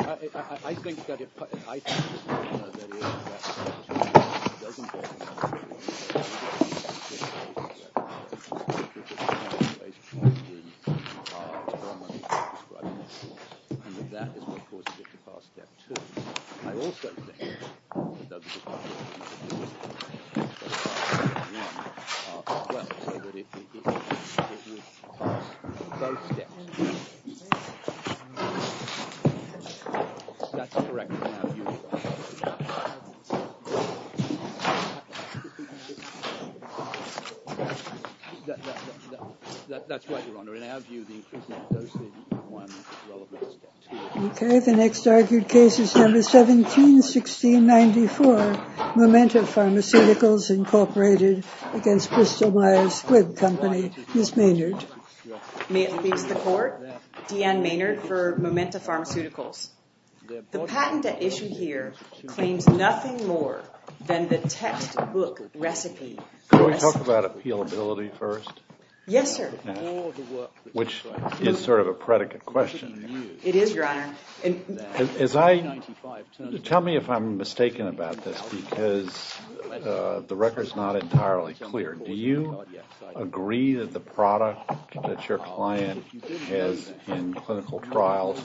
I think that it is possible that if that is what causes it to pass Step 2, I also think that that is what causes it to pass Step 1 as well, so that if it is, it would pass both Steps. That is correct in our view. That is right, Your Honor. In our view, the increase in Step 1 is relevant to Step 2. Okay, the next argued case is number 171694, Momenta Pharmaceuticals, Inc. v. Bristol-Myers Squibb Company. Ms. Maynard. May it please the Court, Deanne Maynard for Momenta Pharmaceuticals. The patent at issue here claims nothing more than the textbook recipe. Can we talk about appealability first? Yes, sir. Which is sort of a predicate question. It is, Your Honor. Tell me if I am mistaken about this because the record is not entirely clear. Do you agree that the product that your client has in clinical trials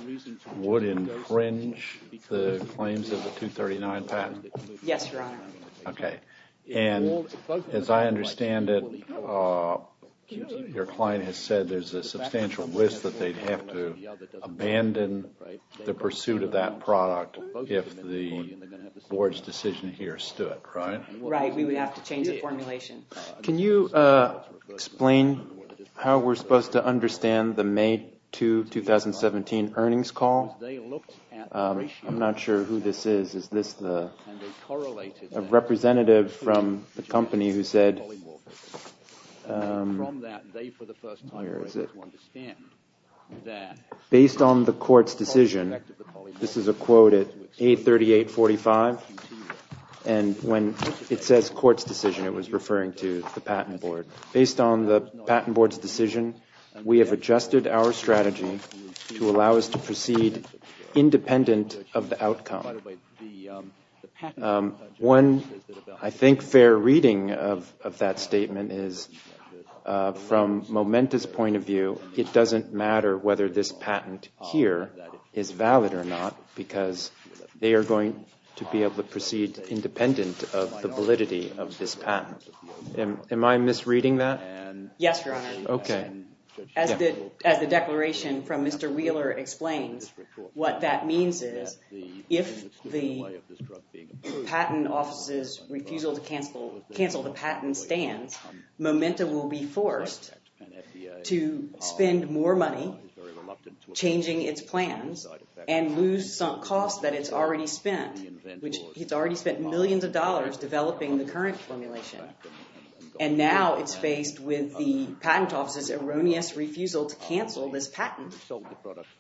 would infringe the claims of the 239 patent? Yes, Your Honor. Okay, and as I understand it, your client has said there is a substantial risk that they would have to abandon the pursuit of that product if the Board's decision here stood, right? Right, we would have to change the formulation. Can you explain how we are supposed to understand the May 2, 2017 earnings call? I'm not sure who this is. Is this the representative from the company who said, based on the Court's decision, this is a quote at A3845, and when it says Court's decision, it was referring to the Patent Board. Based on the Patent Board's decision, we have adjusted our strategy to allow us to proceed independent of the outcome. One, I think, fair reading of that statement is from Momenta's point of view, it doesn't matter whether this patent here is valid or not because they are going to be able to proceed independent of the validity of this patent. Am I misreading that? Yes, Your Honor. Okay. As the declaration from Mr. Wheeler explains, what that means is if the Patent Office's refusal to cancel the patent stands, Momenta will be forced to spend more money changing its plans and lose some costs that it's already spent, which it's already spent millions of dollars developing the current formulation. And now it's faced with the Patent Office's erroneous refusal to cancel this patent,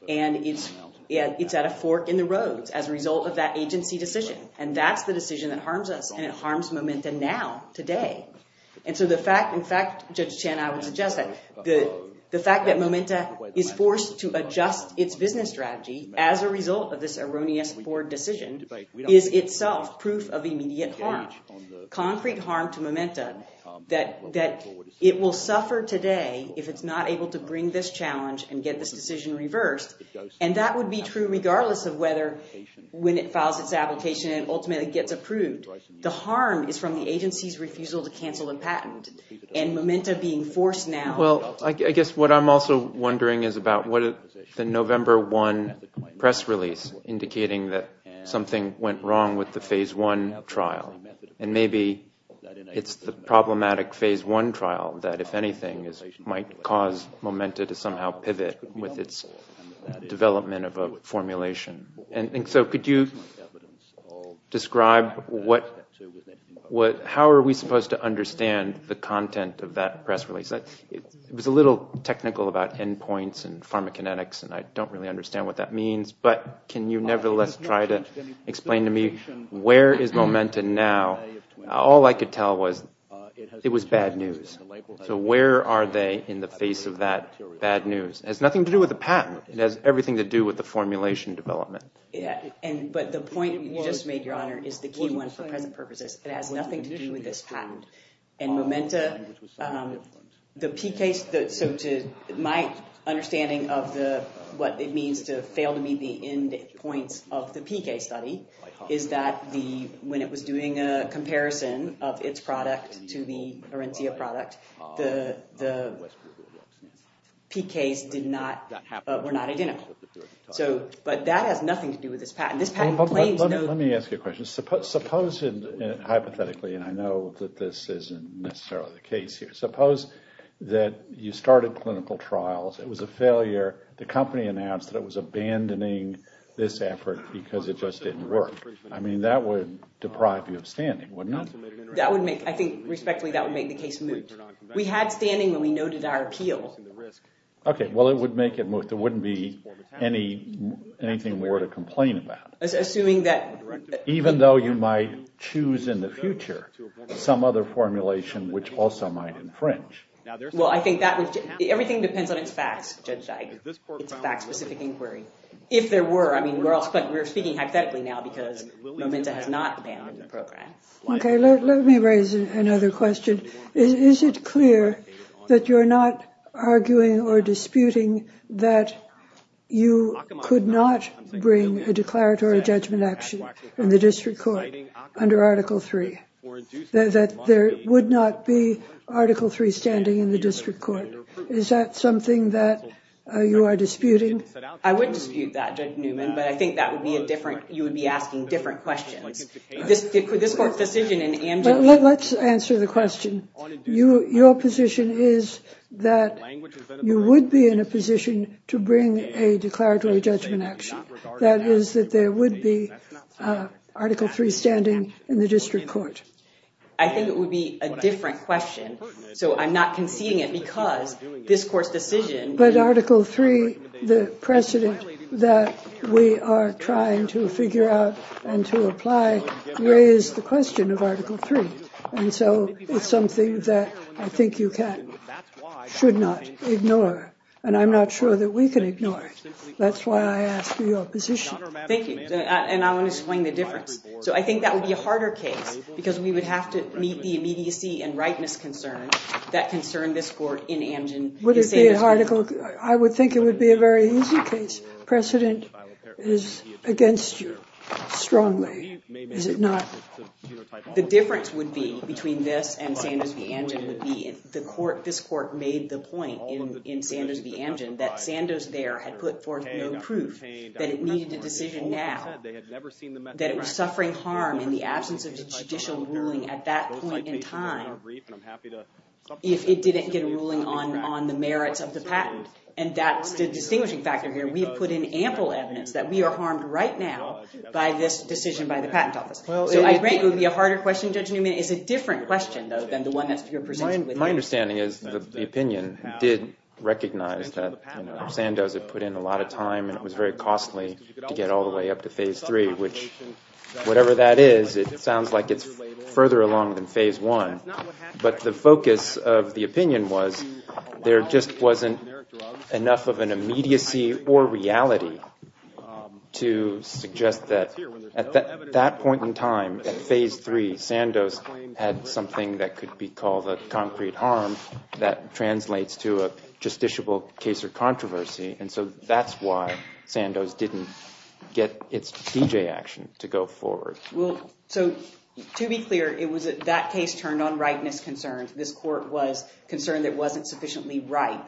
and it's at a fork in the road as a result of that agency decision. And that's the decision that harms us, and it harms Momenta now, today. And so the fact, in fact, Judge Chen, I would suggest that the fact that Momenta is forced to adjust its business strategy as a result of this erroneous board decision is itself proof of immediate harm, concrete harm to Momenta that it will suffer today if it's not able to bring this challenge and get this decision reversed. And that would be true regardless of whether, when it files its application and ultimately gets approved. The harm is from the agency's refusal to cancel the patent and Momenta being forced now. Well, I guess what I'm also wondering is about the November 1 press release indicating that something went wrong with the Phase 1 trial. And maybe it's the problematic Phase 1 trial that, if anything, might cause Momenta to somehow pivot with its development of a formulation. And so could you describe how are we supposed to understand the content of that press release? It was a little technical about endpoints and pharmacokinetics, and I don't really understand what that means. But can you nevertheless try to explain to me where is Momenta now? All I could tell was it was bad news. So where are they in the face of that bad news? It has nothing to do with the patent. It has everything to do with the formulation development. But the point you just made, Your Honor, is the key one for present purposes. It has nothing to do with this patent. And Momenta, the PKs, so to my understanding of what it means to fail to meet the endpoints of the PK study, is that when it was doing a comparison of its product to the Arencia product, the PKs were not identical. But that has nothing to do with this patent. Let me ask you a question. Suppose, hypothetically, and I know that this isn't necessarily the case here, suppose that you started clinical trials. It was a failure. The company announced that it was abandoning this effort because it just didn't work. I mean, that would deprive you of standing, wouldn't it? I think, respectfully, that would make the case moot. We had standing when we noted our appeal. Okay, well, it would make it moot. There wouldn't be anything more to complain about. Even though you might choose in the future some other formulation which also might infringe. Well, I think everything depends on its facts, Judge Dike, its fact-specific inquiry. If there were, I mean, we're speaking hypothetically now because Momenta has not abandoned the program. Okay, let me raise another question. Is it clear that you're not arguing or disputing that you could not bring a declaratory judgment action in the district court under Article III, that there would not be Article III standing in the district court? Is that something that you are disputing? I would dispute that, Judge Newman, but I think that would be a different, you would be asking different questions. Let's answer the question. Your position is that you would be in a position to bring a declaratory judgment action, that is, that there would be Article III standing in the district court. I think it would be a different question, so I'm not conceding it because this court's decision. But Article III, the precedent that we are trying to figure out and to apply raised the question of Article III, and so it's something that I think you should not ignore, and I'm not sure that we can ignore it. That's why I ask for your position. Thank you, and I want to explain the difference. So I think that would be a harder case because we would have to meet the immediacy and rightness concerns that concern this court in Amgen. I would think it would be a very easy case. Precedent is against you strongly. Is it not? The difference would be between this and Sanders v. Amgen would be if this court made the point in Sanders v. Amgen that Sanders there had put forth no proof that it needed a decision now, that it was suffering harm in the absence of a judicial ruling at that point in time if it didn't get a ruling on the merits of the patent, and that's the distinguishing factor here. We have put in ample evidence that we are harmed right now by this decision by the Patent Office. So I think it would be a harder question, Judge Newman. It's a different question, though, than the one that you're presenting. My understanding is the opinion did recognize that Sanders had put in a lot of time, and it was very costly to get all the way up to Phase III, which, whatever that is, it sounds like it's further along than Phase I. But the focus of the opinion was there just wasn't enough of an immediacy or reality to suggest that at that point in time, at Phase III, Sanders had something that could be called a concrete harm that translates to a justiciable case or controversy. And so that's why Sanders didn't get its D.J. action to go forward. So to be clear, it was that case turned on rightness concerns. This court was concerned it wasn't sufficiently right.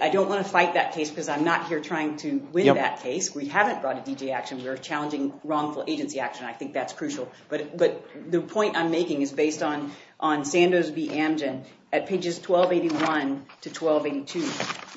I don't want to fight that case because I'm not here trying to win that case. We haven't brought a D.J. action. We're challenging wrongful agency action. I think that's crucial. But the point I'm making is based on Sanders v. Amgen at pages 1281 to 1282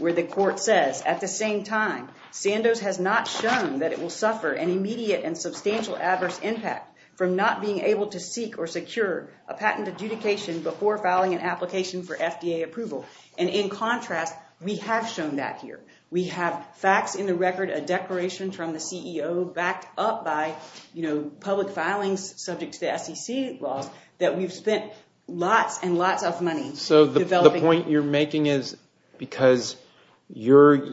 where the court says, at the same time, Sanders has not shown that it will suffer an immediate and substantial adverse impact from not being able to seek or secure a patent adjudication before filing an application for FDA approval. And in contrast, we have shown that here. We have facts in the record, a declaration from the CEO backed up by public filings subject to SEC laws that we've spent lots and lots of money developing. The point you're making is because your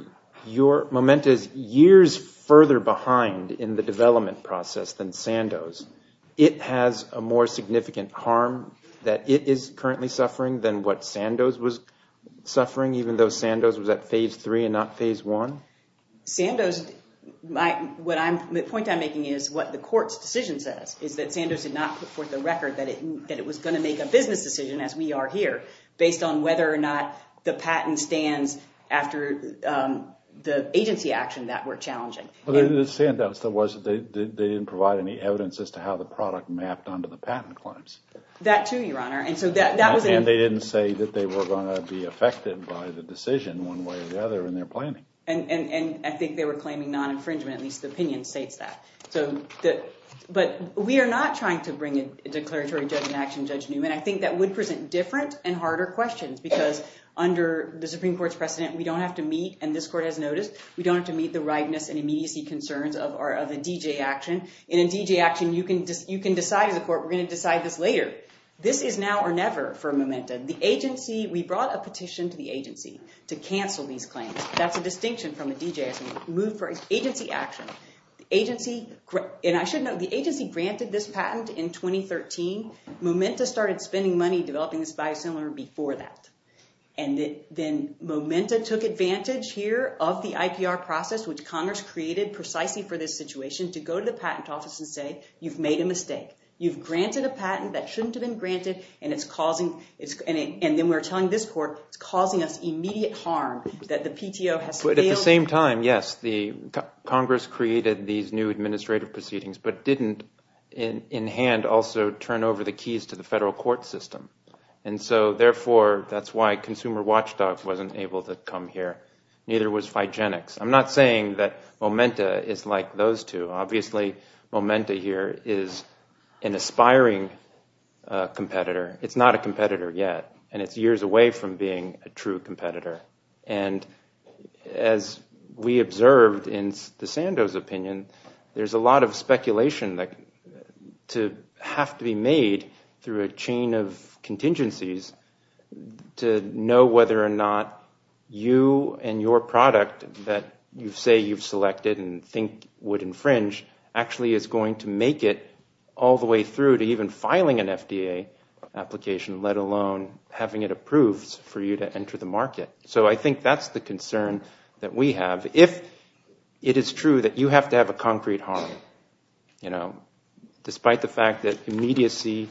moment is years further behind in the development process than Sandoz. It has a more significant harm that it is currently suffering than what Sandoz was suffering, even though Sandoz was at phase three and not phase one? Sandoz, the point I'm making is what the court's decision says, is that Sandoz did not put forth a record that it was going to make a business decision, as we are here, based on whether or not the patent stands after the agency action that we're challenging. The standout still was that they didn't provide any evidence as to how the product mapped onto the patent claims. That too, Your Honor. And they didn't say that they were going to be affected by the decision one way or the other in their planning. And I think they were claiming non-infringement, at least the opinion states that. But we are not trying to bring a declaratory judgment action, Judge Newman. I think that would present different and harder questions, because under the Supreme Court's precedent, we don't have to meet, and this court has noticed, we don't have to meet the rightness and immediacy concerns of a D.J. action. In a D.J. action, you can decide as a court, we're going to decide this later. This is now or never for Momenta. The agency, we brought a petition to the agency to cancel these claims. That's a distinction from a D.J. action. Agency action. And I should note, the agency granted this patent in 2013. Momenta started spending money developing this biosimilar before that. And then Momenta took advantage here of the IPR process, which Congress created precisely for this situation, to go to the patent office and say, you've made a mistake. You've granted a patent that shouldn't have been granted, and then we're telling this court, At the same time, yes, Congress created these new administrative proceedings, but didn't in hand also turn over the keys to the federal court system. And so, therefore, that's why Consumer Watchdog wasn't able to come here. Neither was Phygenics. I'm not saying that Momenta is like those two. Obviously, Momenta here is an aspiring competitor. It's not a competitor yet, and it's years away from being a true competitor. And as we observed in Sandow's opinion, there's a lot of speculation to have to be made through a chain of contingencies to know whether or not you and your product that you say you've selected and think would infringe actually is going to make it all the way through to even filing an FDA application, let alone having it approved for you to enter the market. So I think that's the concern that we have. If it is true that you have to have a concrete harm, you know, despite the fact that immediacy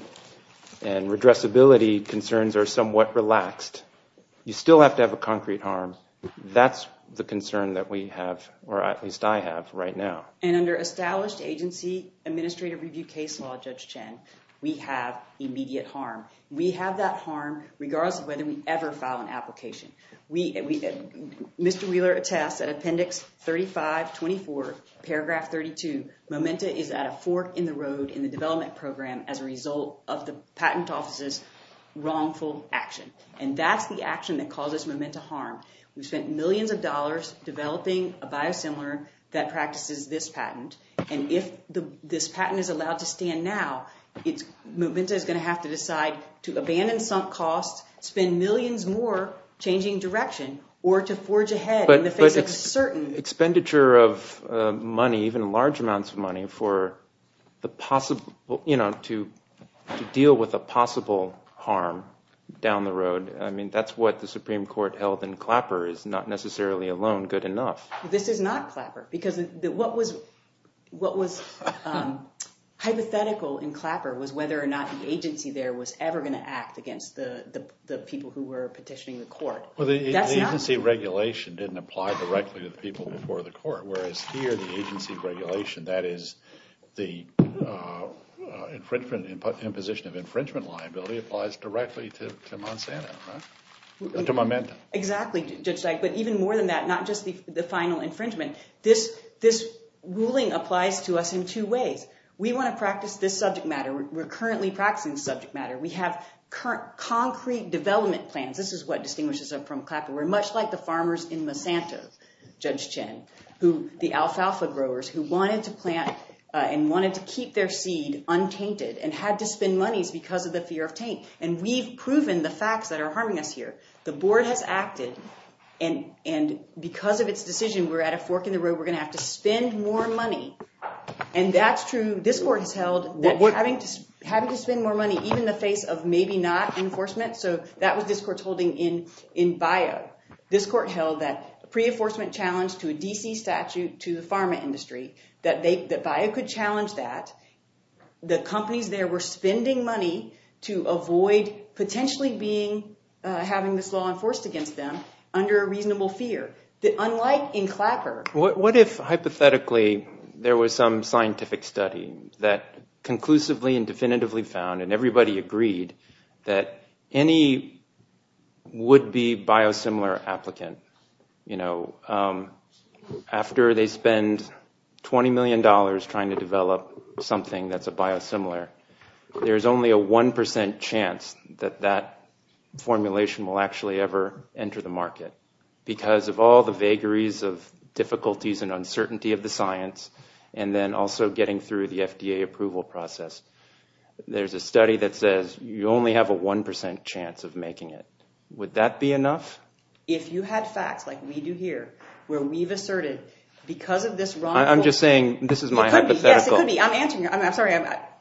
and redressability concerns are somewhat relaxed, you still have to have a concrete harm. That's the concern that we have, or at least I have right now. And under established agency administrative review case law, Judge Chen, we have immediate harm. We have that harm regardless of whether we ever file an application. Mr. Wheeler attests that Appendix 3524, Paragraph 32, Momenta is at a fork in the road in the development program as a result of the patent office's wrongful action. And that's the action that causes Momenta harm. We've spent millions of dollars developing a biosimilar that practices this patent, and if this patent is allowed to stand now, Momenta is going to have to decide to abandon sunk costs, spend millions more changing direction, or to forge ahead in the face of certain— But expenditure of money, even large amounts of money, for the possible, you know, to deal with a possible harm down the road, I mean, that's what the Supreme Court held in Clapper is not necessarily a loan good enough. This is not Clapper, because what was hypothetical in Clapper was whether or not the agency there was ever going to act against the people who were petitioning the court. Well, the agency regulation didn't apply directly to the people before the court, whereas here the agency regulation, that is the imposition of infringement liability, applies directly to Monsanto, to Momenta. Exactly, Judge Dyke, but even more than that, not just the final infringement. This ruling applies to us in two ways. We want to practice this subject matter. We're currently practicing the subject matter. We have concrete development plans. This is what distinguishes us from Clapper. We're much like the farmers in Monsanto, Judge Chen, the alfalfa growers who wanted to plant and wanted to keep their seed untainted and had to spend monies because of the fear of taint. And we've proven the facts that are harming us here. The board has acted, and because of its decision, we're at a fork in the road. We're going to have to spend more money, and that's true. This court has held that having to spend more money, even in the face of maybe not enforcement, so that was this court's holding in Bayou. This court held that a pre-enforcement challenge to a D.C. statute to the pharma industry, that Bayou could challenge that. The companies there were spending money to avoid potentially having this law enforced against them under a reasonable fear, unlike in Clapper. What if, hypothetically, there was some scientific study that conclusively and definitively found, and everybody agreed, that any would-be biosimilar applicant, after they spend $20 million trying to develop something that's a biosimilar, there's only a 1% chance that that formulation will actually ever enter the market. Because of all the vagaries of difficulties and uncertainty of the science, and then also getting through the FDA approval process, there's a study that says you only have a 1% chance of making it. Would that be enough? If you had facts like we do here, where we've asserted, because of this wrongful— I'm just saying, this is my hypothetical. Yes, it could be. I'm answering your—I'm sorry,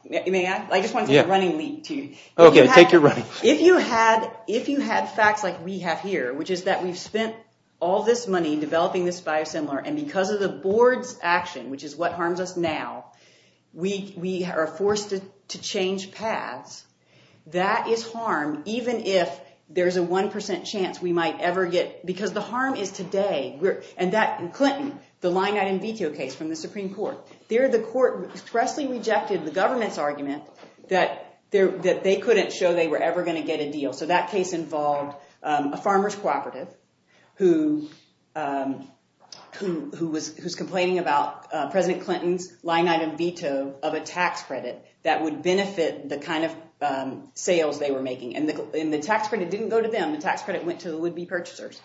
may I? I just want to take a running leap to you. Okay, take your running. If you had facts like we have here, which is that we've spent all this money developing this biosimilar, and because of the board's action, which is what harms us now, we are forced to change paths, that is harm, even if there's a 1% chance we might ever get— because the harm is today. Clinton, the line-item veto case from the Supreme Court, there the court expressly rejected the government's argument that they couldn't show they were ever going to get a deal. So that case involved a farmers cooperative who was complaining about President Clinton's line-item veto of a tax credit that would benefit the kind of sales they were making. And the tax credit didn't go to them. The tax credit went to the would-be purchasers.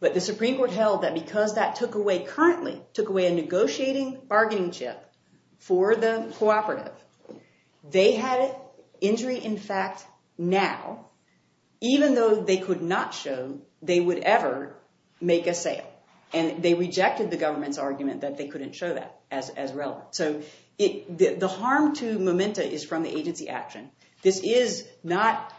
But the Supreme Court held that because that took away— currently took away a negotiating bargaining chip for the cooperative, they had injury in fact now, even though they could not show they would ever make a sale. And they rejected the government's argument that they couldn't show that as relevant. So the harm to Memento is from the agency action. This is not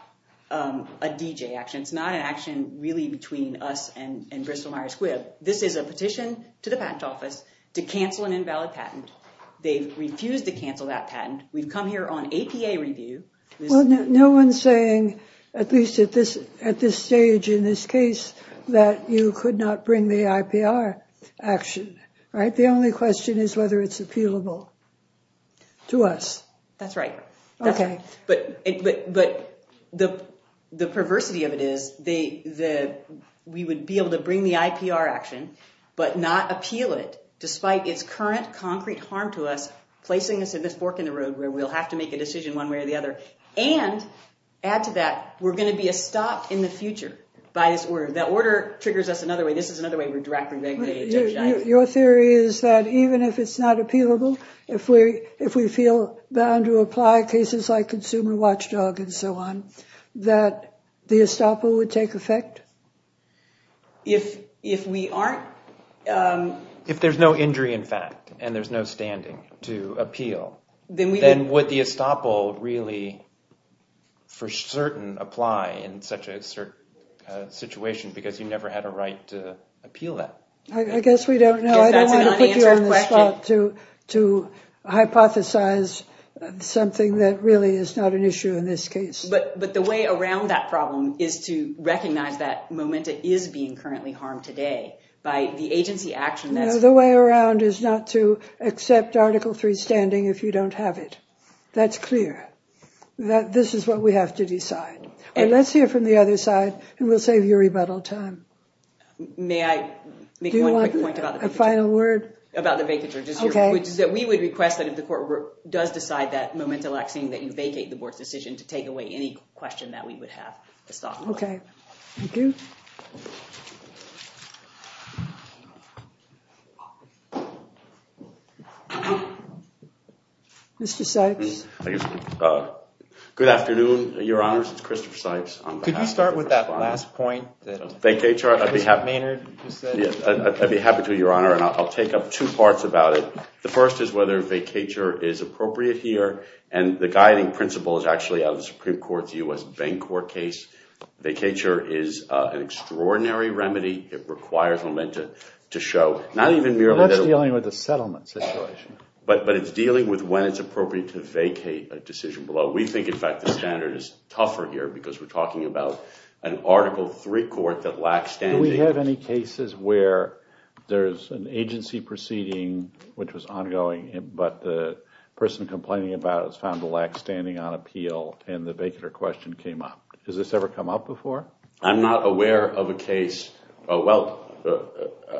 a DJ action. It's not an action really between us and Bristol-Myers Squibb. This is a petition to the patent office to cancel an invalid patent. They refused to cancel that patent. We've come here on APA review. Well, no one's saying, at least at this stage in this case, that you could not bring the IPR action, right? The only question is whether it's appealable to us. That's right. Okay. But the perversity of it is that we would be able to bring the IPR action but not appeal it despite its current concrete harm to us, placing us in this fork in the road where we'll have to make a decision one way or the other. And add to that, we're going to be a stop in the future by this order. That order triggers us another way. This is another way we're directly regulated. Your theory is that even if it's not appealable, if we feel bound to apply cases like consumer watchdog and so on, that the estoppel would take effect? If we aren't? If there's no injury in fact and there's no standing to appeal, then would the estoppel really for certain apply in such a situation because you never had a right to appeal that? I guess we don't know. I don't want to put you on the spot to hypothesize something that really is not an issue in this case. But the way around that problem is to recognize that MOMENTA is being currently harmed today by the agency action that's- No, the way around is not to accept Article III standing if you don't have it. That's clear. This is what we have to decide. Let's hear from the other side and we'll save you rebuttal time. May I make one quick point about the vacature? Do you want a final word? About the vacature. Okay. We would request that if the court does decide that MOMENTA lacks and that you vacate the board's decision to take away any question that we would have. Okay. Thank you. Mr. Sykes. Good afternoon, Your Honors. It's Christopher Sykes. Could you start with that last point that Mr. Maynard just said? I'd be happy to, Your Honor, and I'll take up two parts about it. The first is whether vacature is appropriate here and the guiding principle is actually out of the Supreme Court's U.S. Bancorp case. Vacature is an extraordinary remedy. It requires MOMENTA to show not even merely- That's dealing with a settlement situation. But it's dealing with when it's appropriate to vacate a decision below. We think, in fact, the standard is tougher here because we're talking about an Article III court that lacks standing. Do we have any cases where there's an agency proceeding which was ongoing but the person complaining about it was found to lack standing on appeal and the vacature question came up? Has this ever come up before? I'm not aware of a case- Well,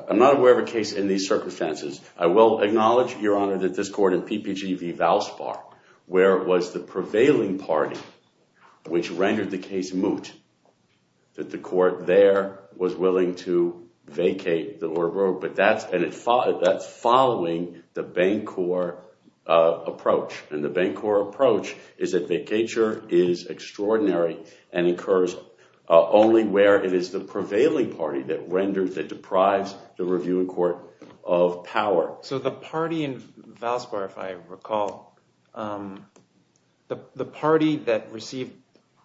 I'm not aware of a case in these circumstances. I will acknowledge, Your Honor, that this court in PPG v. Valspar where it was the prevailing party which rendered the case moot that the court there was willing to vacate the order, but that's following the Bancorp approach, and the Bancorp approach is that vacature is extraordinary and occurs only where it is the prevailing party that deprives the reviewing court of power. So the party in Valspar, if I recall, the party that received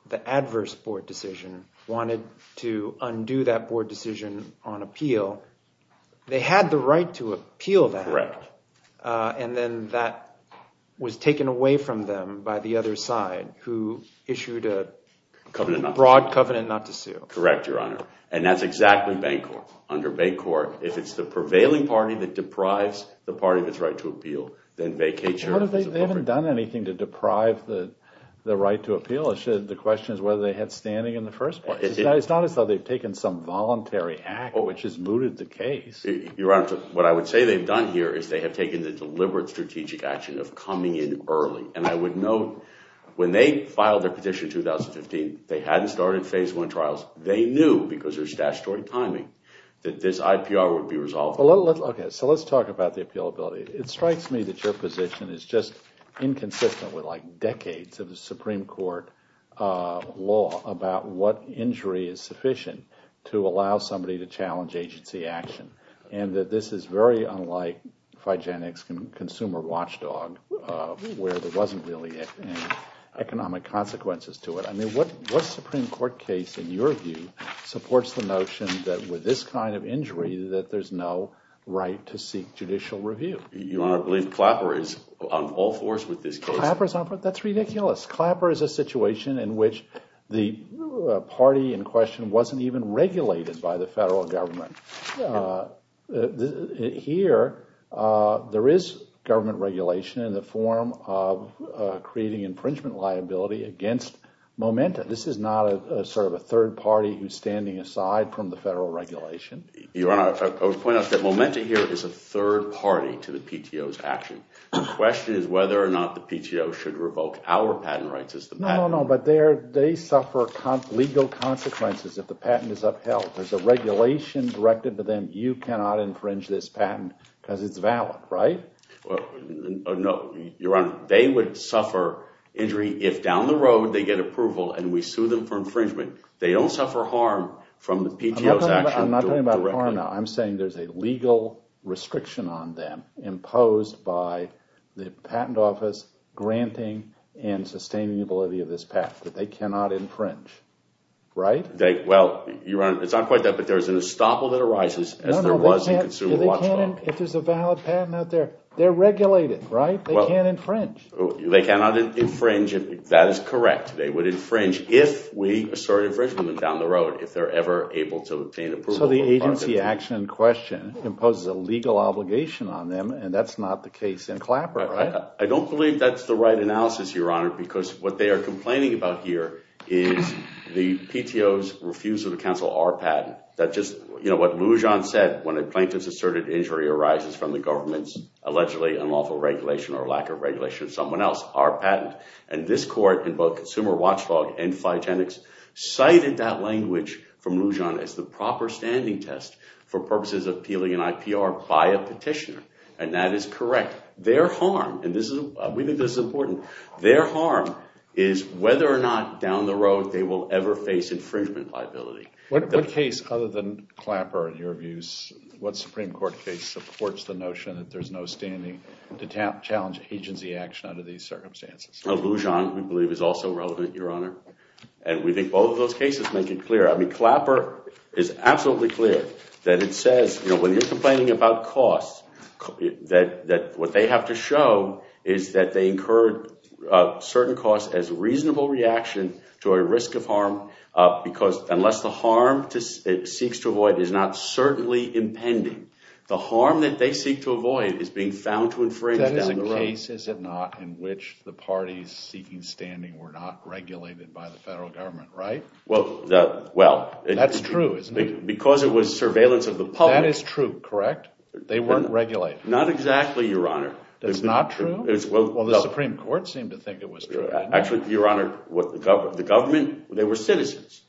the adverse board decision wanted to undo that board decision on appeal. They had the right to appeal that, and then that was taken away from them by the other side who issued a broad covenant not to sue. Correct, Your Honor. And that's exactly Bancorp. Under Bancorp, if it's the prevailing party that deprives the party of its right to appeal, then vacature is appropriate. They haven't done anything to deprive the right to appeal. The question is whether they had standing in the first place. It's not as though they've taken some voluntary act which has mooted the case. Your Honor, what I would say they've done here is they have taken the deliberate strategic action of coming in early, and I would note when they filed their petition in 2015, they hadn't started phase one trials. They knew, because there's statutory timing, that this IPR would be resolved. Okay, so let's talk about the appealability. It strikes me that your position is just inconsistent with, like, decades of the Supreme Court law about what injury is sufficient to allow somebody to challenge agency action, and that this is very unlike Figenic's consumer watchdog where there wasn't really any economic consequences to it. I mean, what Supreme Court case, in your view, supports the notion that with this kind of injury that there's no right to seek judicial review? Your Honor, I believe Clapper is on all fours with this case. Clapper is on all fours? That's ridiculous. Clapper is a situation in which the party in question wasn't even regulated by the federal government. Here, there is government regulation in the form of creating infringement liability against Momenta. This is not a sort of a third party who's standing aside from the federal regulation. Your Honor, I would point out that Momenta here is a third party to the PTO's action. The question is whether or not the PTO should revoke our patent rights as the patent. No, no, no, but they suffer legal consequences if the patent is upheld. There's a regulation directed to them, you cannot infringe this patent because it's valid, right? No, Your Honor, they would suffer injury if, down the road, they get approval and we sue them for infringement. They don't suffer harm from the PTO's action. I'm not talking about harm. I'm saying there's a legal restriction on them imposed by the patent office granting and sustaining the validity of this patent that they cannot infringe, right? Well, Your Honor, it's not quite that, but there's an estoppel that arises as there was in Consumer Watch Law. If there's a valid patent out there, they're regulated, right? They can't infringe. They cannot infringe. That is correct. They would infringe if we assert infringement down the road, if they're ever able to obtain approval. So the agency action in question imposes a legal obligation on them and that's not the case in Clapper, right? I don't believe that's the right analysis, Your Honor, because what they are complaining about here is the PTO's refusal to cancel our patent. What Lujan said, when a plaintiff's asserted injury arises from the government's allegedly unlawful regulation or lack of regulation of someone else, our patent, and this court in both Consumer Watch Law and FITENIX cited that language from Lujan as the proper standing test for purposes of appealing an IPR by a petitioner, and that is correct. Their harm, and we think this is important, their harm is whether or not down the road they will ever face infringement liability. What case, other than Clapper, in your views, what Supreme Court case supports the notion that there's no standing to challenge agency action under these circumstances? Lujan, we believe, is also relevant, Your Honor, and we think both of those cases make it clear. I mean, Clapper is absolutely clear that it says when you're complaining about costs that what they have to show is that they incurred certain costs as reasonable reaction to a risk of harm because unless the harm it seeks to avoid is not certainly impending, the harm that they seek to avoid is being found to infringe down the road. That is a case, is it not, in which the parties seeking standing were not regulated by the federal government, right? Well, that's true, isn't it? Because it was surveillance of the public. That is true, correct? They weren't regulated? Not exactly, Your Honor. That's not true? Well, the Supreme Court seemed to think it was true. Actually, Your Honor, the government, they were citizens,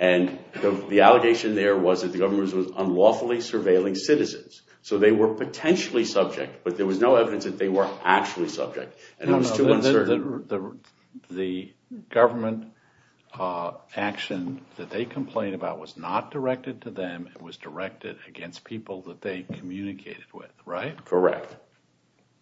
and the allegation there was that the government was unlawfully surveilling citizens. So they were potentially subject, but there was no evidence that they were actually subject. And it was too uncertain. The government action that they complained about was not directed to them. It was directed against people that they communicated with, right? Correct.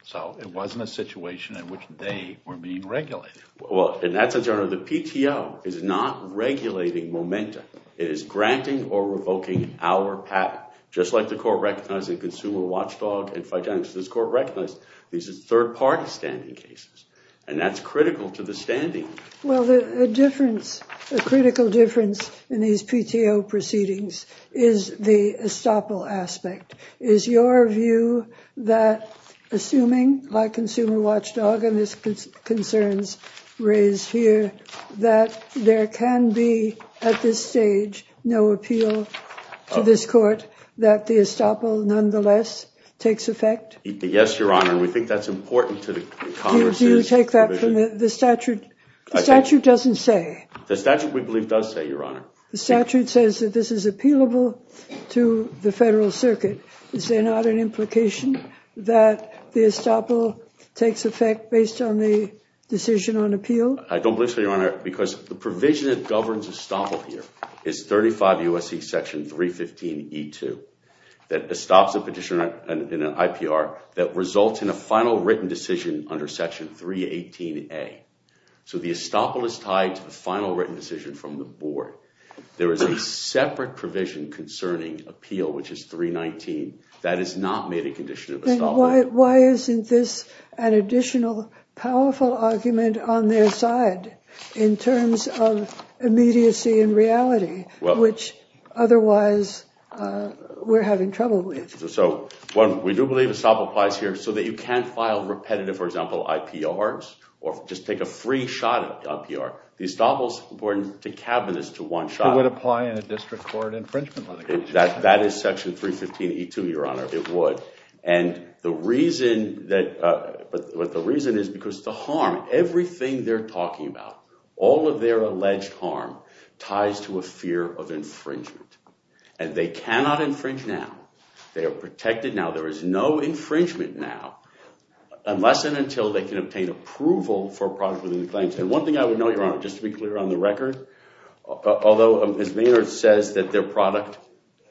So it wasn't a situation in which they were being regulated. Well, in that sense, Your Honor, the PTO is not regulating Momentum. It is granting or revoking our patent, just like the court recognized in Consumer Watchdog and Financial Assistance Court recognized these are third-party standing cases, and that's critical to the standing. Well, the difference, the critical difference in these PTO proceedings is the estoppel aspect. Is your view that, assuming, like Consumer Watchdog and its concerns raised here, that there can be, at this stage, no appeal to this court, that the estoppel nonetheless takes effect? Yes, Your Honor, and we think that's important to the Congress's provision. Do you take that from the statute? The statute doesn't say. The statute, we believe, does say, Your Honor. The statute says that this is appealable to the federal circuit. Is there not an implication that the estoppel takes effect based on the decision on appeal? I don't believe so, Your Honor, because the provision that governs estoppel here is 35 U.S.C. section 315E2 that estops a petitioner in an IPR that results in a final written decision under section 318A. So the estoppel is tied to the final written decision from the board. There is a separate provision concerning appeal, which is 319. That is not made a condition of estoppel. Then why isn't this an additional powerful argument on their side in terms of immediacy and reality, which otherwise we're having trouble with? So, one, we do believe estoppel applies here so that you can't file repetitive, for example, IPRs or just take a free shot at IPR. The estoppel is important to cabinets to one shot. It would apply in a district court infringement litigation. That is section 315E2, Your Honor. It would. And the reason is because the harm, everything they're talking about, all of their alleged harm ties to a fear of infringement. And they cannot infringe now. They are protected now. There is no infringement now unless and until they can obtain approval for a product within the claims. And one thing I would note, Your Honor, just to be clear on the record, although Ms. Maynard says that their product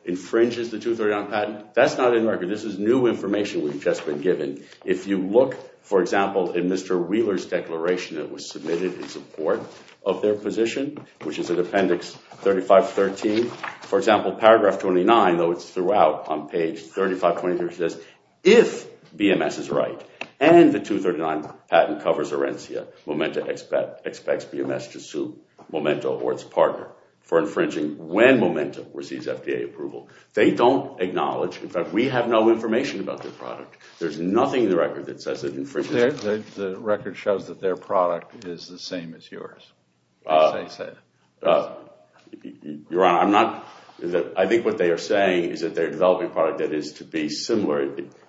infringes the 239 patent, that's not in the record. This is new information we've just been given. If you look, for example, in Mr. Wheeler's declaration that was submitted in support of their position, which is in appendix 3513, for example, paragraph 29, though it's throughout on page 3523, says if BMS is right and the 239 patent covers Orencia, Momenta expects BMS to sue Momenta or its partner for infringing when Momenta receives FDA approval. They don't acknowledge. In fact, we have no information about their product. There's nothing in the record that says it infringes. The record shows that their product is the same as yours. Your Honor, I think what they are saying is that they're developing a product that is to be similar.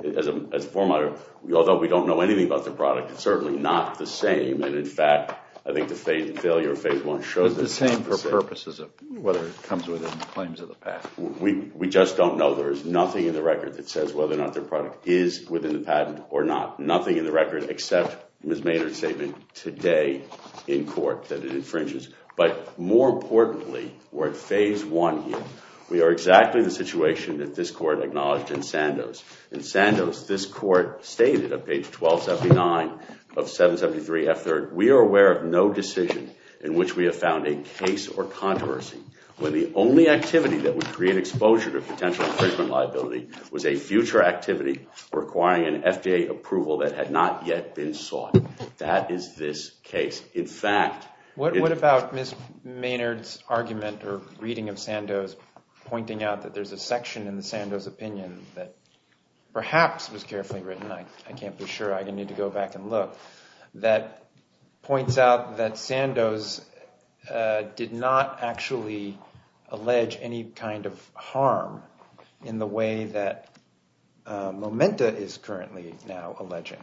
As a formatter, although we don't know anything about the product, it's certainly not the same. And, in fact, I think the failure of phase one shows that it's the same. But the same for purposes of whether it comes within the claims of the patent. We just don't know. There is nothing in the record that says whether or not their product is within the patent or not. Nothing in the record except Ms. Maynard's statement today in court that it infringes. But, more importantly, we're at phase one here. We are exactly the situation that this Court acknowledged in Sandoz. In Sandoz, this Court stated on page 1279 of 773F3rd, we are aware of no decision in which we have found a case or controversy when the only activity that would create exposure to potential infringement liability was a future activity requiring an FDA approval that had not yet been sought. That is this case. In fact... What about Ms. Maynard's argument or reading of Sandoz pointing out that there's a section in the Sandoz opinion that perhaps was carefully written, I can't be sure, I need to go back and look, that points out that Sandoz did not actually allege any kind of harm in the way that Momenta is currently now alleging.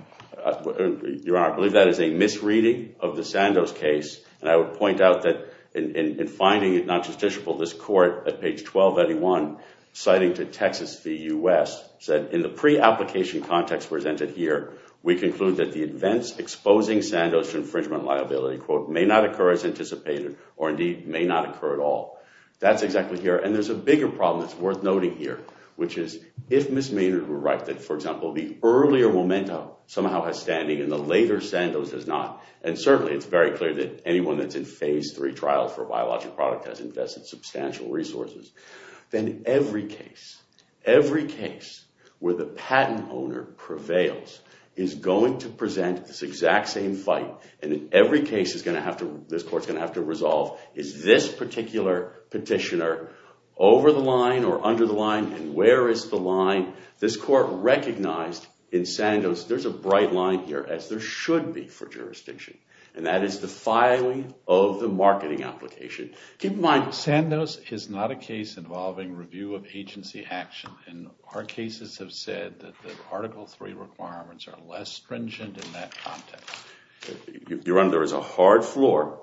Your Honor, I believe that is a misreading of the Sandoz case, and I would point out that in finding it not justiciable, this Court at page 1281 citing to Texas v. U.S. said, in the pre-application context presented here, we conclude that the events exposing Sandoz to infringement liability, quote, may not occur as anticipated or indeed may not occur at all. That's exactly here. And there's a bigger problem that's worth noting here, which is if Ms. Maynard were right that, for example, the earlier Momenta somehow has standing and the later Sandoz does not, and certainly it's very clear that anyone that's in Phase III trials for a biologic product has invested substantial resources, then every case, every case where the patent owner prevails is going to present this exact same fight, and in every case this Court's going to have to resolve is this particular petitioner over the line or under the line and where is the line. This Court recognized in Sandoz there's a bright line here, as there should be for jurisdiction, and that is the filing of the marketing application. Keep in mind, Sandoz is not a case involving review of agency action, and our cases have said that the Article III requirements are less stringent in that context. Your Honor, there is a hard floor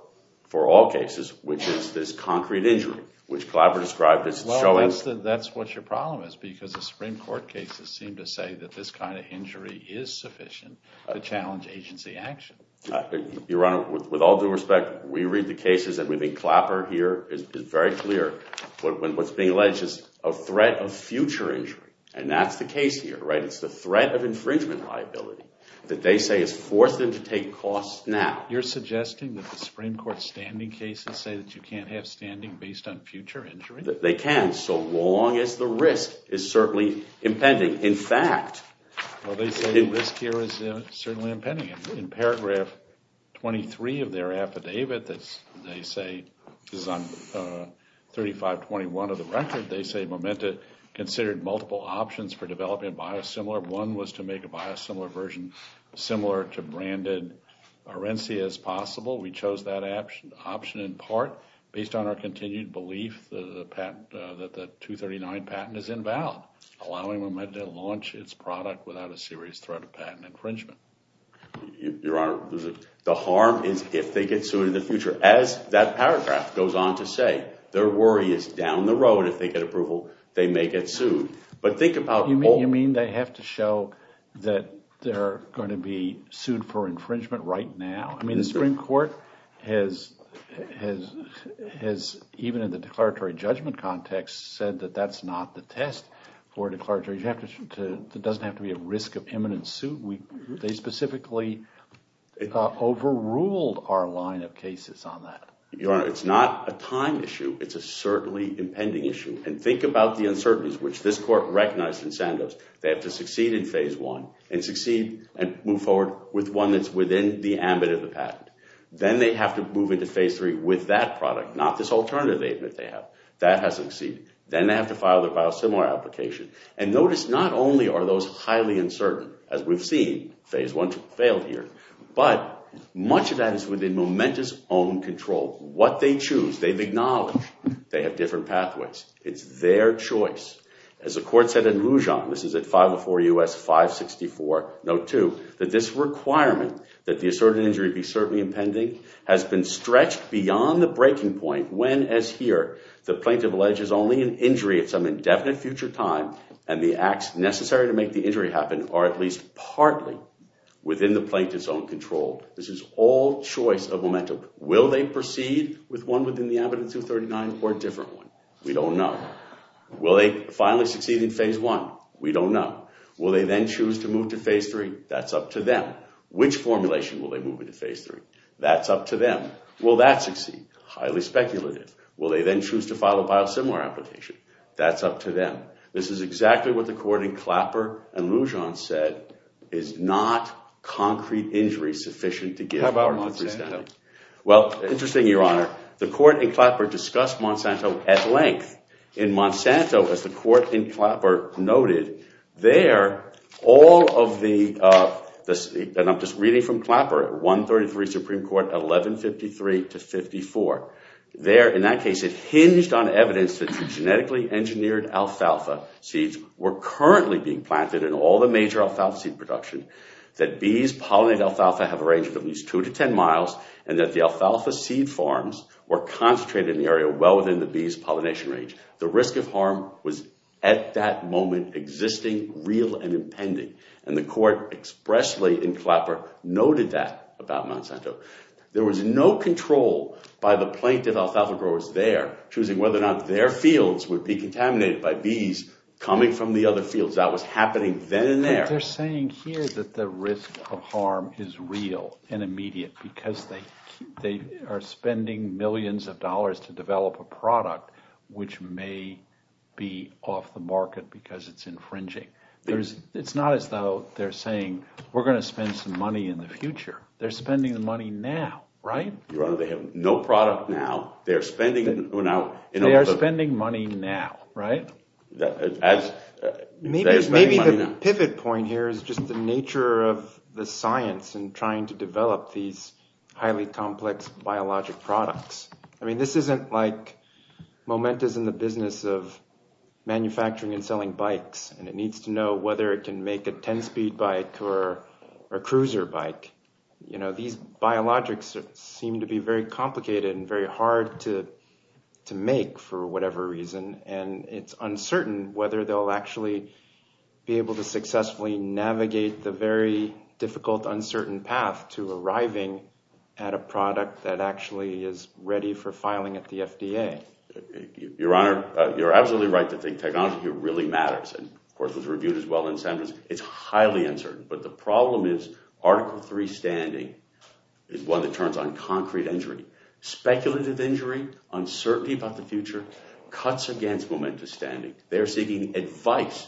for all cases, which is this concrete injury, which Clapper described as showing— Well, that's what your problem is, because the Supreme Court cases seem to say that this kind of injury is sufficient to challenge agency action. Your Honor, with all due respect, we read the cases, and we think Clapper here is very clear. What's being alleged is a threat of future injury, and that's the case here. It's the threat of infringement liability that they say has forced them to take costs now. You're suggesting that the Supreme Court standing cases say that you can't have standing based on future injury? They can, so long as the risk is certainly impending. In fact— Well, they say the risk here is certainly impending. In paragraph 23 of their affidavit, they say—this is on 3521 of the record— they say Momenta considered multiple options for developing a biosimilar. One was to make a biosimilar version similar to branded RENCIA as possible. We chose that option in part based on our continued belief that the 239 patent is invalid, allowing Momenta to launch its product without a serious threat of patent infringement. Your Honor, the harm is if they get sued in the future. As that paragraph goes on to say, their worry is down the road, if they get approval, they may get sued. But think about— You mean they have to show that they're going to be sued for infringement right now? I mean the Supreme Court has, even in the declaratory judgment context, said that that's not the test for declaratory. It doesn't have to be a risk of imminent suit. They specifically overruled our line of cases on that. Your Honor, it's not a time issue. It's a certainly impending issue. And think about the uncertainties, which this Court recognized in Sandoz. They have to succeed in Phase 1 and succeed and move forward with one that's within the ambit of the patent. Then they have to move into Phase 3 with that product, not this alternative they admit they have. That has succeeded. Then they have to file their biosimilar application. And notice not only are those highly uncertain, as we've seen. Phase 1 failed here. But much of that is within Momenta's own control. They acknowledge they have different pathways. It's their choice. As the Court said in Lujan, this is at 504 U.S. 564, Note 2, that this requirement that the asserted injury be certainly impending has been stretched beyond the breaking point when, as here, the plaintiff alleges only an injury at some indefinite future time and the acts necessary to make the injury happen are at least partly within the plaintiff's own control. This is all choice of Momenta. Will they proceed with one within the ambit of 239 or a different one? We don't know. Will they finally succeed in Phase 1? We don't know. Will they then choose to move to Phase 3? That's up to them. Which formulation will they move into Phase 3? That's up to them. Will that succeed? Highly speculative. Will they then choose to file a biosimilar application? That's up to them. This is exactly what the Court in Clapper and Lujan said is not concrete injury sufficient to give our understanding. Well, interesting, Your Honor. The Court in Clapper discussed Monsanto at length. In Monsanto, as the Court in Clapper noted, there, all of the – and I'm just reading from Clapper – at 133 Supreme Court, 1153 to 54. There, in that case, it hinged on evidence that the genetically engineered alfalfa seeds were currently being planted in all the major alfalfa seed production, that bees pollinate alfalfa have a range of at least 2 to 10 miles, and that the alfalfa seed farms were concentrated in the area well within the bees' pollination range. The risk of harm was, at that moment, existing, real, and impending. And the Court expressly, in Clapper, noted that about Monsanto. There was no control by the plaintiff alfalfa growers there, choosing whether or not their fields would be contaminated by bees coming from the other fields. That was happening then and there. They're saying here that the risk of harm is real and immediate because they are spending millions of dollars to develop a product which may be off the market because it's infringing. It's not as though they're saying we're going to spend some money in the future. They're spending the money now, right? Your Honor, they have no product now. They are spending – They are spending money now, right? As – Maybe the pivot point here is just the nature of the science in trying to develop these highly complex biologic products. I mean this isn't like Moment is in the business of manufacturing and selling bikes, and it needs to know whether it can make a 10-speed bike or a cruiser bike. These biologics seem to be very complicated and very hard to make for whatever reason, and it's uncertain whether they'll actually be able to successfully navigate the very difficult, uncertain path to arriving at a product that actually is ready for filing at the FDA. Your Honor, you're absolutely right to think technology really matters, and of course it was reviewed as well in sentence. It's highly uncertain, but the problem is Article III standing is one that turns on concrete injury. Speculative injury, uncertainty about the future, cuts against Momentus standing. They're seeking advice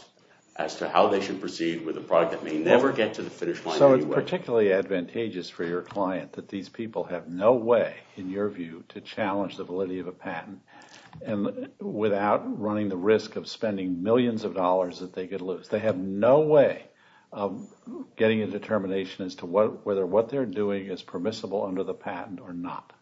as to how they should proceed with a product that may never get to the finish line anyway. So it's particularly advantageous for your client that these people have no way, in your view, to challenge the validity of a patent without running the risk of spending millions of dollars that they could lose. They have no way of getting a determination as to whether what they're doing is permissible under the patent or not.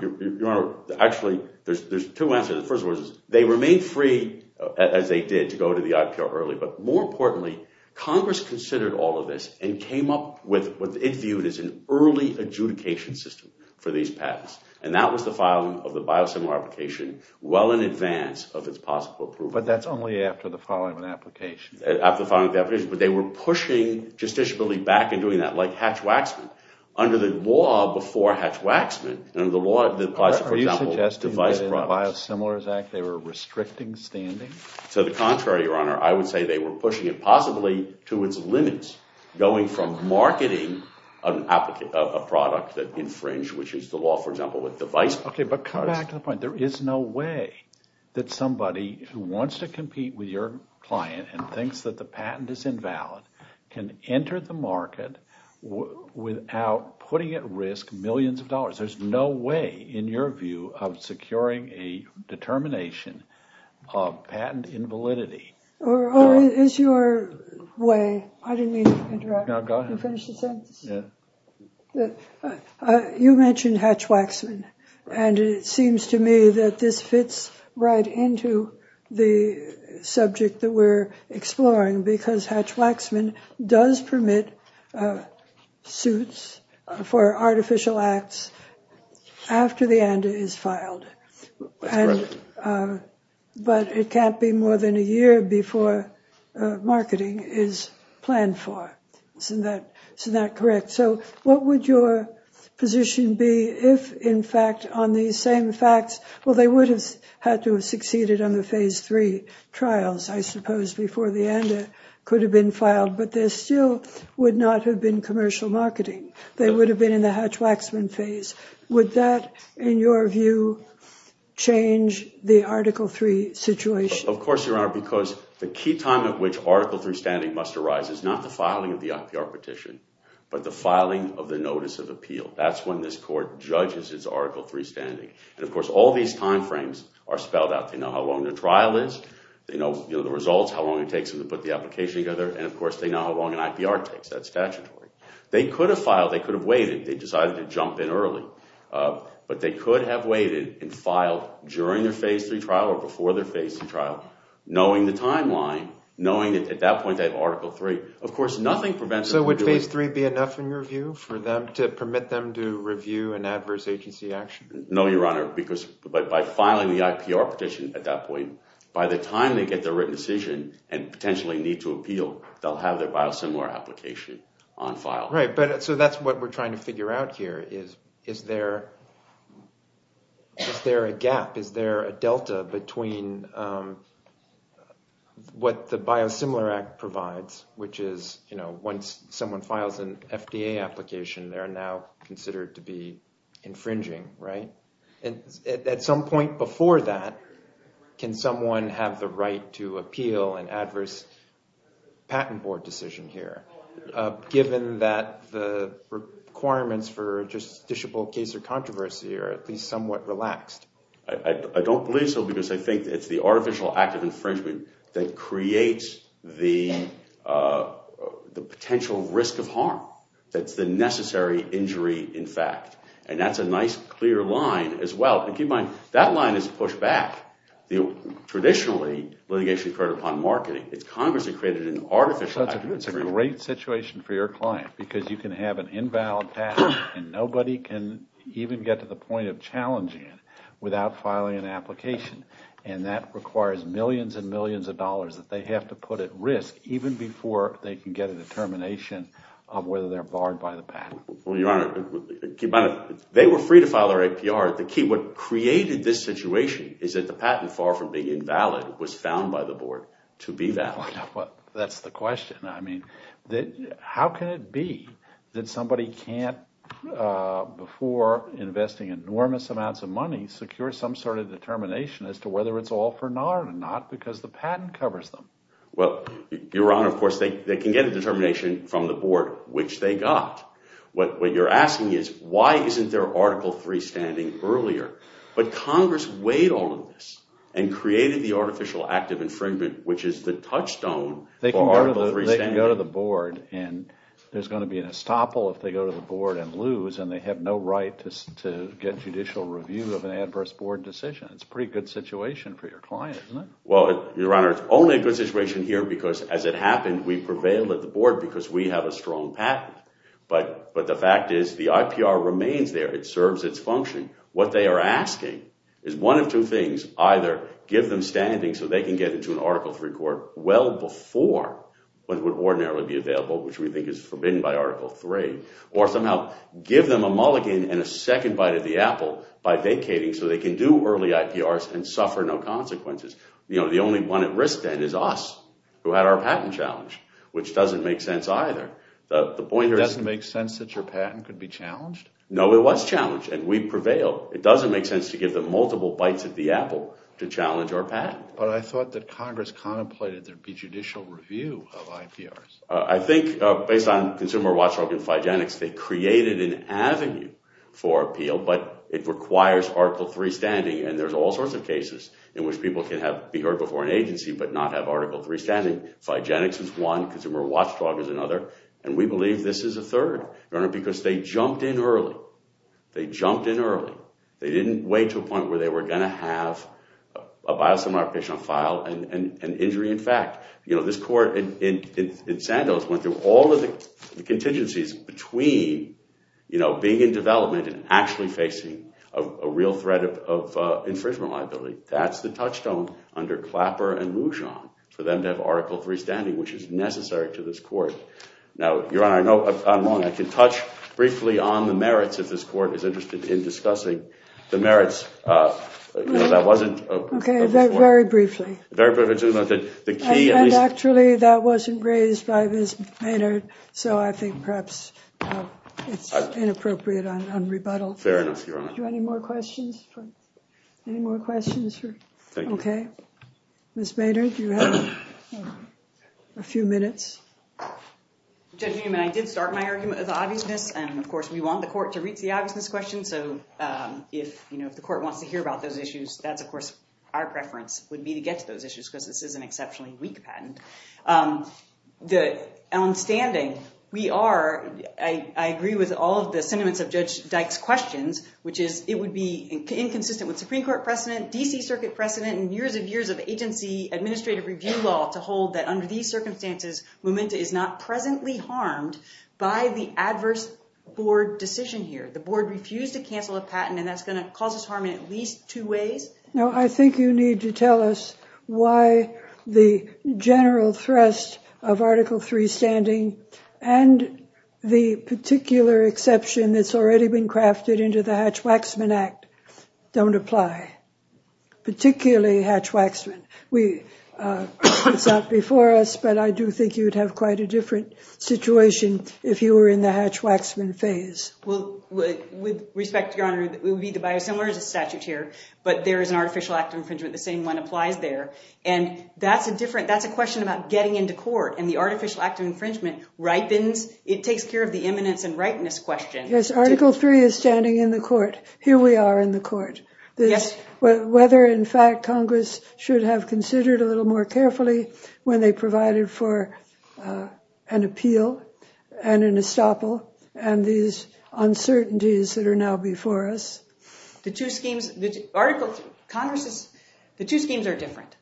Your Honor, actually, there's two answers. The first one is they remain free, as they did, to go to the IPO early, but more importantly, Congress considered all of this and came up with what it viewed as an early adjudication system for these patents, and that was the filing of the biosimilar application well in advance of its possible approval. But that's only after the filing of the application. After the filing of the application, but they were pushing justiciability back in doing that, like Hatch-Waxman. Under the law before Hatch-Waxman, under the law that applies to, for example, device products. Are you suggesting that in the Biosimilars Act they were restricting standing? To the contrary, Your Honor. I would say they were pushing it possibly to its limits, going from marketing a product that infringed, which is the law, for example, with device products. Okay, but come back to the point. There is no way that somebody who wants to compete with your client and thinks that the patent is invalid can enter the market without putting at risk millions of dollars. There's no way, in your view, of securing a determination of patent invalidity. Oh, it is your way. I didn't mean to interrupt. Go ahead. You finished the sentence? Yeah. You mentioned Hatch-Waxman, and it seems to me that this fits right into the subject that we're exploring because Hatch-Waxman does permit suits for artificial acts after the ANDA is filed. That's correct. But it can't be more than a year before marketing is planned for. Isn't that correct? So what would your position be if, in fact, on these same facts, well, they would have had to have succeeded on the Phase III trials, I suppose, before the ANDA could have been filed, but there still would not have been commercial marketing. They would have been in the Hatch-Waxman phase. Would that, in your view, change the Article III situation? Of course, Your Honor, because the key time at which Article III standing must arise is not the filing of the IPR petition, but the filing of the notice of appeal. That's when this Court judges its Article III standing. And, of course, all these time frames are spelled out. They know how long the trial is. They know the results, how long it takes them to put the application together. And, of course, they know how long an IPR takes. That's statutory. They could have filed. They could have waited. They decided to jump in early. But they could have waited and filed during their Phase III trial or before their Phase III trial, knowing the timeline, knowing that at that point they have Article III. Of course, nothing prevents them from doing it. So would Phase III be enough, in your view, for them to permit them to review an adverse agency action? No, Your Honor, because by filing the IPR petition at that point, by the time they get their written decision and potentially need to appeal, they'll have their biosimilar application on file. Right, but so that's what we're trying to figure out here is, is there a gap? Is there a delta between what the Biosimilar Act provides, which is, you know, once someone files an FDA application, they're now considered to be infringing, right? And at some point before that, can someone have the right to appeal an adverse patent board decision here, given that the requirements for a justiciable case or controversy are at least somewhat relaxed? I don't believe so, because I think it's the artificial act of infringement that creates the potential risk of harm. That's the necessary injury, in fact. And that's a nice, clear line as well. Keep in mind, that line is pushed back. Traditionally, litigation is created upon marketing. It's Congress that created an artificial act of infringement. That's a great situation for your client, because you can have an invalid patent and nobody can even get to the point of challenging it without filing an application. And that requires millions and millions of dollars that they have to put at risk, even before they can get a determination of whether they're barred by the patent. Well, Your Honor, they were free to file their APR. The key, what created this situation is that the patent, far from being invalid, was found by the board to be valid. Well, that's the question. I mean, how can it be that somebody can't, before investing enormous amounts of money, secure some sort of determination as to whether it's all for naught or not, because the patent covers them? Well, Your Honor, of course, they can get a determination from the board, which they got. What you're asking is, why isn't there Article III standing earlier? But Congress weighed all of this and created the artificial act of infringement, which is the touchstone for Article III standing. They can go to the board, and there's going to be an estoppel if they go to the board and lose, and they have no right to get judicial review of an adverse board decision. It's a pretty good situation for your client, isn't it? Well, Your Honor, it's only a good situation here because, as it happened, we prevailed at the board because we have a strong patent. But the fact is, the IPR remains there. It serves its function. What they are asking is one of two things. Either give them standing so they can get into an Article III court well before what would ordinarily be available, which we think is forbidden by Article III, or somehow give them a mulligan and a second bite at the apple by vacating so they can do early IPRs and suffer no consequences. You know, the only one at risk then is us, who had our patent challenged, which doesn't make sense either. No, it was challenged, and we prevailed. It doesn't make sense to give them multiple bites at the apple to challenge our patent. But I thought that Congress contemplated there'd be judicial review of IPRs. I think, based on Consumer Watchdog and Phygenics, they created an avenue for appeal, but it requires Article III standing, and there's all sorts of cases in which people can be heard before an agency but not have Article III standing. Phygenics is one, Consumer Watchdog is another, and we believe this is a third, Your Honor, because they jumped in early. They jumped in early. They didn't wait to a point where they were going to have a biosimilar application on file and injury in fact. You know, this court in Sandoz went through all of the contingencies between, you know, being in development and actually facing a real threat of infringement liability. That's the touchstone under Clapper and Lujan for them to have Article III standing, which is necessary to this court. Now, Your Honor, I know I'm wrong. I can touch briefly on the merits if this court is interested in discussing the merits. That wasn't a point. Okay, very briefly. Very briefly. Actually, that wasn't raised by Ms. Maynard, so I think perhaps it's inappropriate on rebuttal. Fair enough, Your Honor. Any more questions? Any more questions? Thank you. Okay. Ms. Maynard, you have a few minutes. Judge Newman, I did start my argument with obviousness, and, of course, we want the court to reach the obviousness question. So if, you know, if the court wants to hear about those issues, that's, of course, our preference would be to get to those issues because this is an exceptionally weak patent. On standing, we are, I agree with all of the sentiments of Judge Dyke's questions, which is it would be inconsistent with Supreme Court precedent, D.C. Circuit precedent, and years and years of agency administrative review law to hold that under these circumstances, Memento is not presently harmed by the adverse board decision here. The board refused to cancel a patent, and that's going to cause us harm in at least two ways. Now, I think you need to tell us why the general thrust of Article III standing and the particular exception that's already been crafted into the Hatch-Waxman Act don't apply, particularly Hatch-Waxman. It's not before us, but I do think you would have quite a different situation if you were in the Hatch-Waxman phase. With respect, Your Honor, it would be the biosimilars statute here, but there is an artificial act of infringement. The same one applies there. And that's a different, that's a question about getting into court. And the artificial act of infringement ripens. It takes care of the imminence and ripeness question. Yes, Article III is standing in the court. Here we are in the court. Whether, in fact, Congress should have considered a little more carefully when they provided for an appeal and an estoppel and these uncertainties that are now before us. The two schemes, the two schemes are different.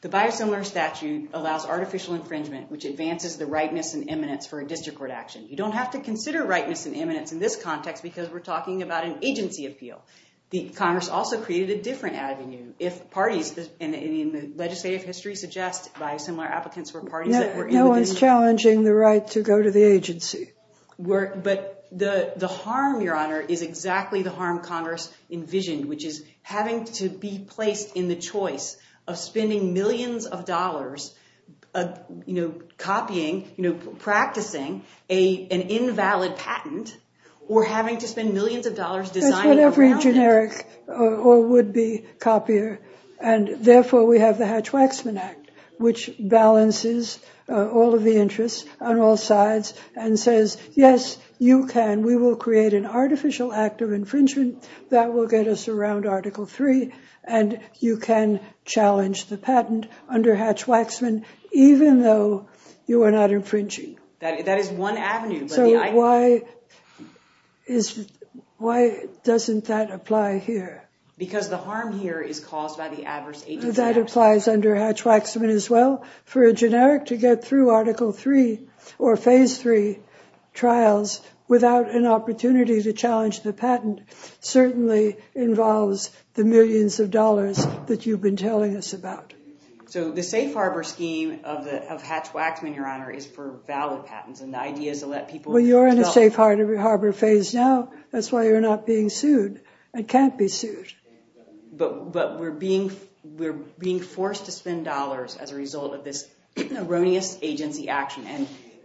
The biosimilar statute allows artificial infringement, which advances the rightness and imminence for a district court action. You don't have to consider rightness and imminence in this context because we're talking about an agency appeal. The Congress also created a different avenue if parties in the legislative history suggest biosimilar applicants were parties that were in the district. No one's challenging the right to go to the agency. But the harm, Your Honor, is exactly the harm Congress envisioned, which is having to be placed in the choice of spending millions of dollars, you know, copying, you know, practicing an invalid patent or having to spend millions of dollars designing a patent. But every generic or would-be copier. And therefore, we have the Hatch-Waxman Act, which balances all of the interests on all sides and says, yes, you can. We will create an artificial act of infringement that will get us around Article III. And you can challenge the patent under Hatch-Waxman, even though you are not infringing. That is one avenue. So why doesn't that apply here? Because the harm here is caused by the adverse agency. That applies under Hatch-Waxman as well. For a generic to get through Article III or Phase III trials without an opportunity to challenge the patent certainly involves the millions of dollars that you've been telling us about. So the safe harbor scheme of Hatch-Waxman, Your Honor, is for valid patents. And the idea is to let people— Well, you're in a safe harbor phase now. That's why you're not being sued and can't be sued. But we're being forced to spend dollars as a result of this erroneous agency action.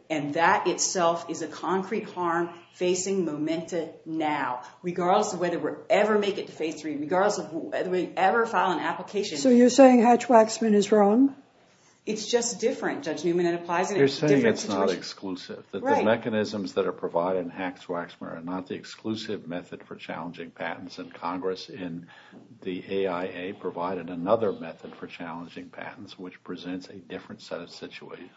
And that itself is a concrete harm facing Momenta now, regardless of whether we ever make it to Phase III, regardless of whether we ever file an application. So you're saying Hatch-Waxman is wrong? It's just different, Judge Newman. It applies in a different situation. You're saying it's not exclusive, that the mechanisms that are provided in Hatch-Waxman are not the exclusive method for challenging patents. And Congress in the AIA provided another method for challenging patents, which presents a different set of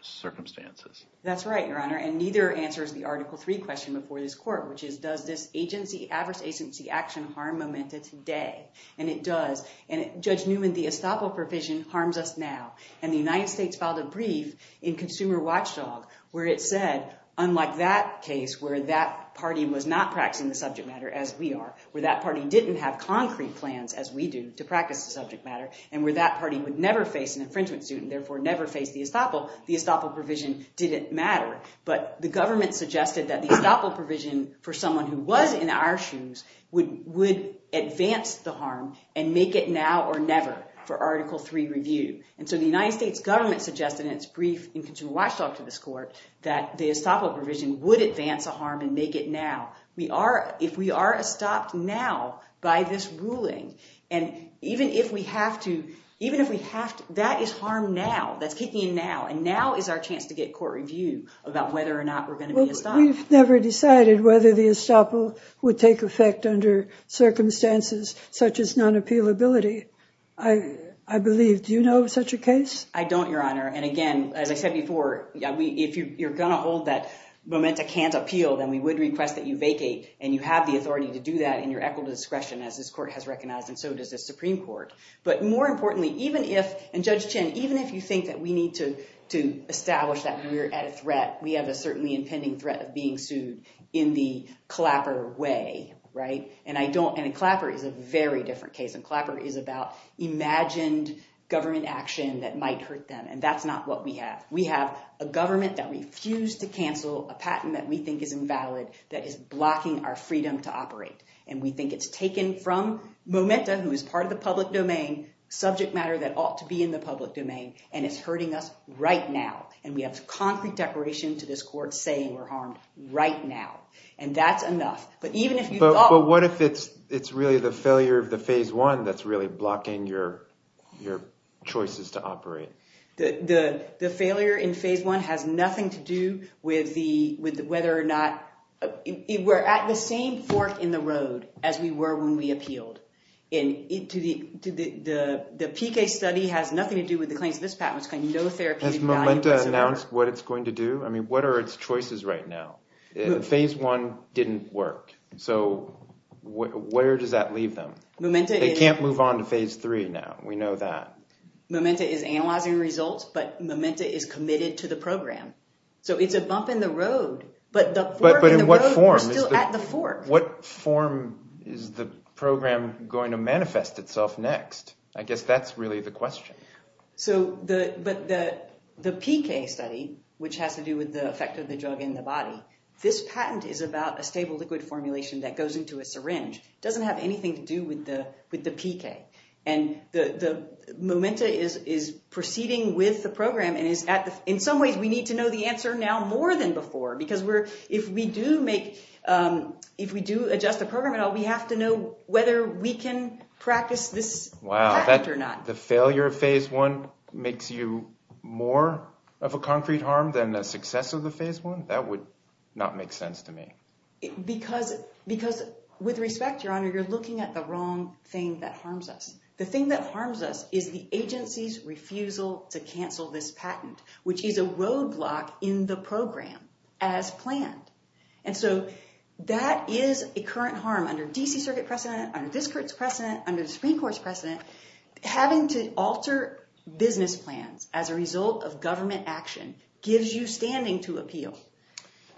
circumstances. That's right, Your Honor. And neither answers the Article III question before this court, which is, does this adverse agency action harm Momenta today? And it does. And, Judge Newman, the estoppel provision harms us now. And the United States filed a brief in Consumer Watchdog where it said, unlike that case where that party was not practicing the subject matter, as we are, where that party didn't have concrete plans, as we do, to practice the subject matter, and where that party would never face an infringement suit and therefore never face the estoppel, the estoppel provision didn't matter. But the government suggested that the estoppel provision for someone who was in our shoes would advance the harm and make it now or never for Article III review. And so the United States government suggested in its brief in Consumer Watchdog to this court that the estoppel provision would advance the harm and make it now. If we are estopped now by this ruling, and even if we have to, that is harm now. That's kicking in now. And now is our chance to get court review about whether or not we're going to be estopped. We've never decided whether the estoppel would take effect under circumstances such as non-appealability, I believe. Do you know of such a case? I don't, Your Honor. And again, as I said before, if you're going to hold that momenta can't appeal, then we would request that you vacate. And you have the authority to do that in your equitable discretion, as this court has recognized, and so does the Supreme Court. But more importantly, even if, and Judge Chin, even if you think that we need to establish that we are at a threat, we have a certainly impending threat of being sued in the Clapper way. And Clapper is a very different case. And Clapper is about imagined government action that might hurt them. And that's not what we have. We have a government that refused to cancel a patent that we think is invalid, that is blocking our freedom to operate. And we think it's taken from momenta, who is part of the public domain, subject matter that ought to be in the public domain, and it's hurting us right now. And we have concrete declaration to this court saying we're harmed right now. And that's enough. But even if you thought – But what if it's really the failure of the phase one that's really blocking your choices to operate? The failure in phase one has nothing to do with whether or not – we're at the same fork in the road as we were when we appealed. And the PK study has nothing to do with the claims of this patent. It's got no therapeutic value whatsoever. Has momenta announced what it's going to do? I mean, what are its choices right now? Phase one didn't work. So where does that leave them? They can't move on to phase three now. We know that. Momenta is analyzing results, but momenta is committed to the program. So it's a bump in the road, but the fork in the road – But in what form? We're still at the fork. What form is the program going to manifest itself next? I guess that's really the question. But the PK study, which has to do with the effect of the drug in the body, this patent is about a stable liquid formulation that goes into a syringe. It doesn't have anything to do with the PK. And the momenta is proceeding with the program and is – in some ways, we need to know the answer now more than before because if we do adjust the program at all, we have to know whether we can practice this patent or not. The failure of phase one makes you more of a concrete harm than the success of the phase one? That would not make sense to me. Because with respect, Your Honor, you're looking at the wrong thing that harms us. The thing that harms us is the agency's refusal to cancel this patent, which is a roadblock in the program as planned. And so that is a current harm under D.C. Circuit precedent, under this court's precedent, under the Supreme Court's precedent. Having to alter business plans as a result of government action gives you standing to appeal.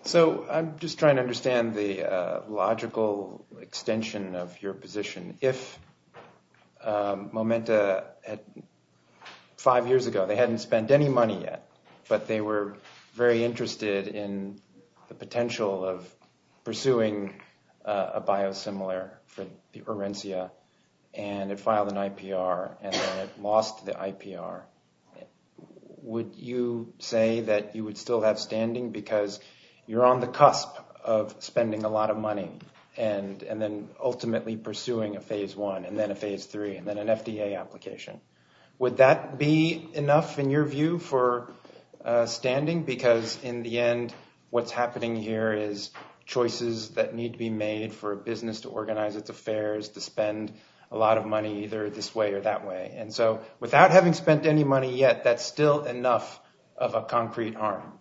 So I'm just trying to understand the logical extension of your position. If momenta had – five years ago, they hadn't spent any money yet, but they were very interested in the potential of pursuing a biosimilar for the Orencia and it filed an IPR and then it lost the IPR, would you say that you would still have standing? Because you're on the cusp of spending a lot of money and then ultimately pursuing a phase one and then a phase three and then an FDA application. Would that be enough, in your view, for standing? Because in the end, what's happening here is choices that need to be made for a business to organize its affairs, to spend a lot of money either this way or that way. And so without having spent any money yet, that's still enough of a concrete harm.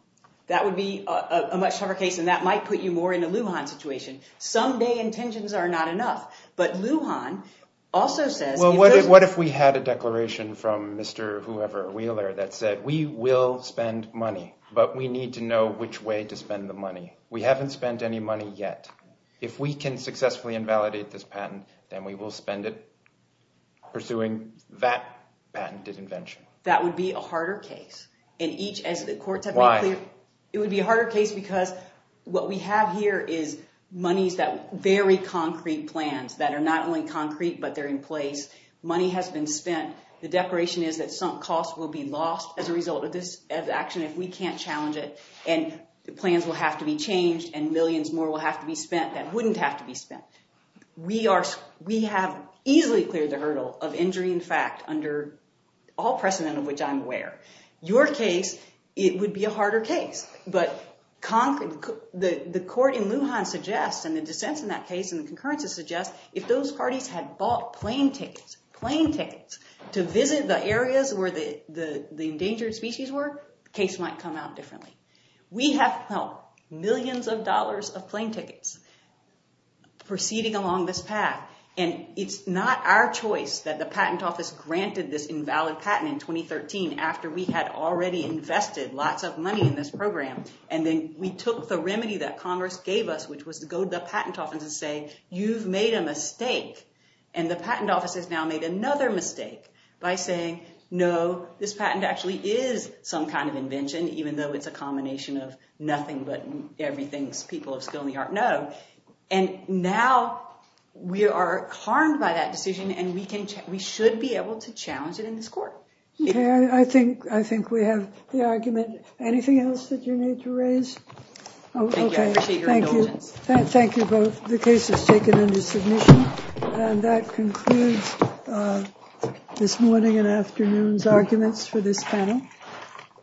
That would be a much tougher case and that might put you more in a Lujan situation. Someday intentions are not enough, but Lujan also says – Well, what if we had a declaration from Mr. whoever, Wheeler, that said we will spend money, but we need to know which way to spend the money. We haven't spent any money yet. If we can successfully invalidate this patent, then we will spend it pursuing that patented invention. That would be a harder case. Why? It would be a harder case because what we have here is monies that – very concrete plans that are not only concrete, but they're in place. Money has been spent. The declaration is that sunk costs will be lost as a result of this action if we can't challenge it, and plans will have to be changed and millions more will have to be spent that wouldn't have to be spent. We are – we have easily cleared the hurdle of injury in fact under all precedent of which I'm aware. Your case, it would be a harder case, but the court in Lujan suggests and the dissents in that case and the concurrences suggest if those parties had bought plane tickets – plane tickets to visit the areas where the endangered species were, the case might come out differently. We have helped millions of dollars of plane tickets proceeding along this path, and it's not our choice that the patent office granted this invalid patent in 2013 after we had already invested lots of money in this program, and then we took the remedy that Congress gave us, which was to go to the patent office and say, you've made a mistake, and the patent office has now made another mistake by saying, no, this patent actually is some kind of invention, even though it's a combination of nothing but everything people of skill and the art know, and now we are harmed by that decision, and we should be able to challenge it in this court. I think we have the argument. Anything else that you need to raise? Thank you. I appreciate your indulgence. Thank you both. The case is taken under submission. And that concludes this morning and afternoon's arguments for this panel.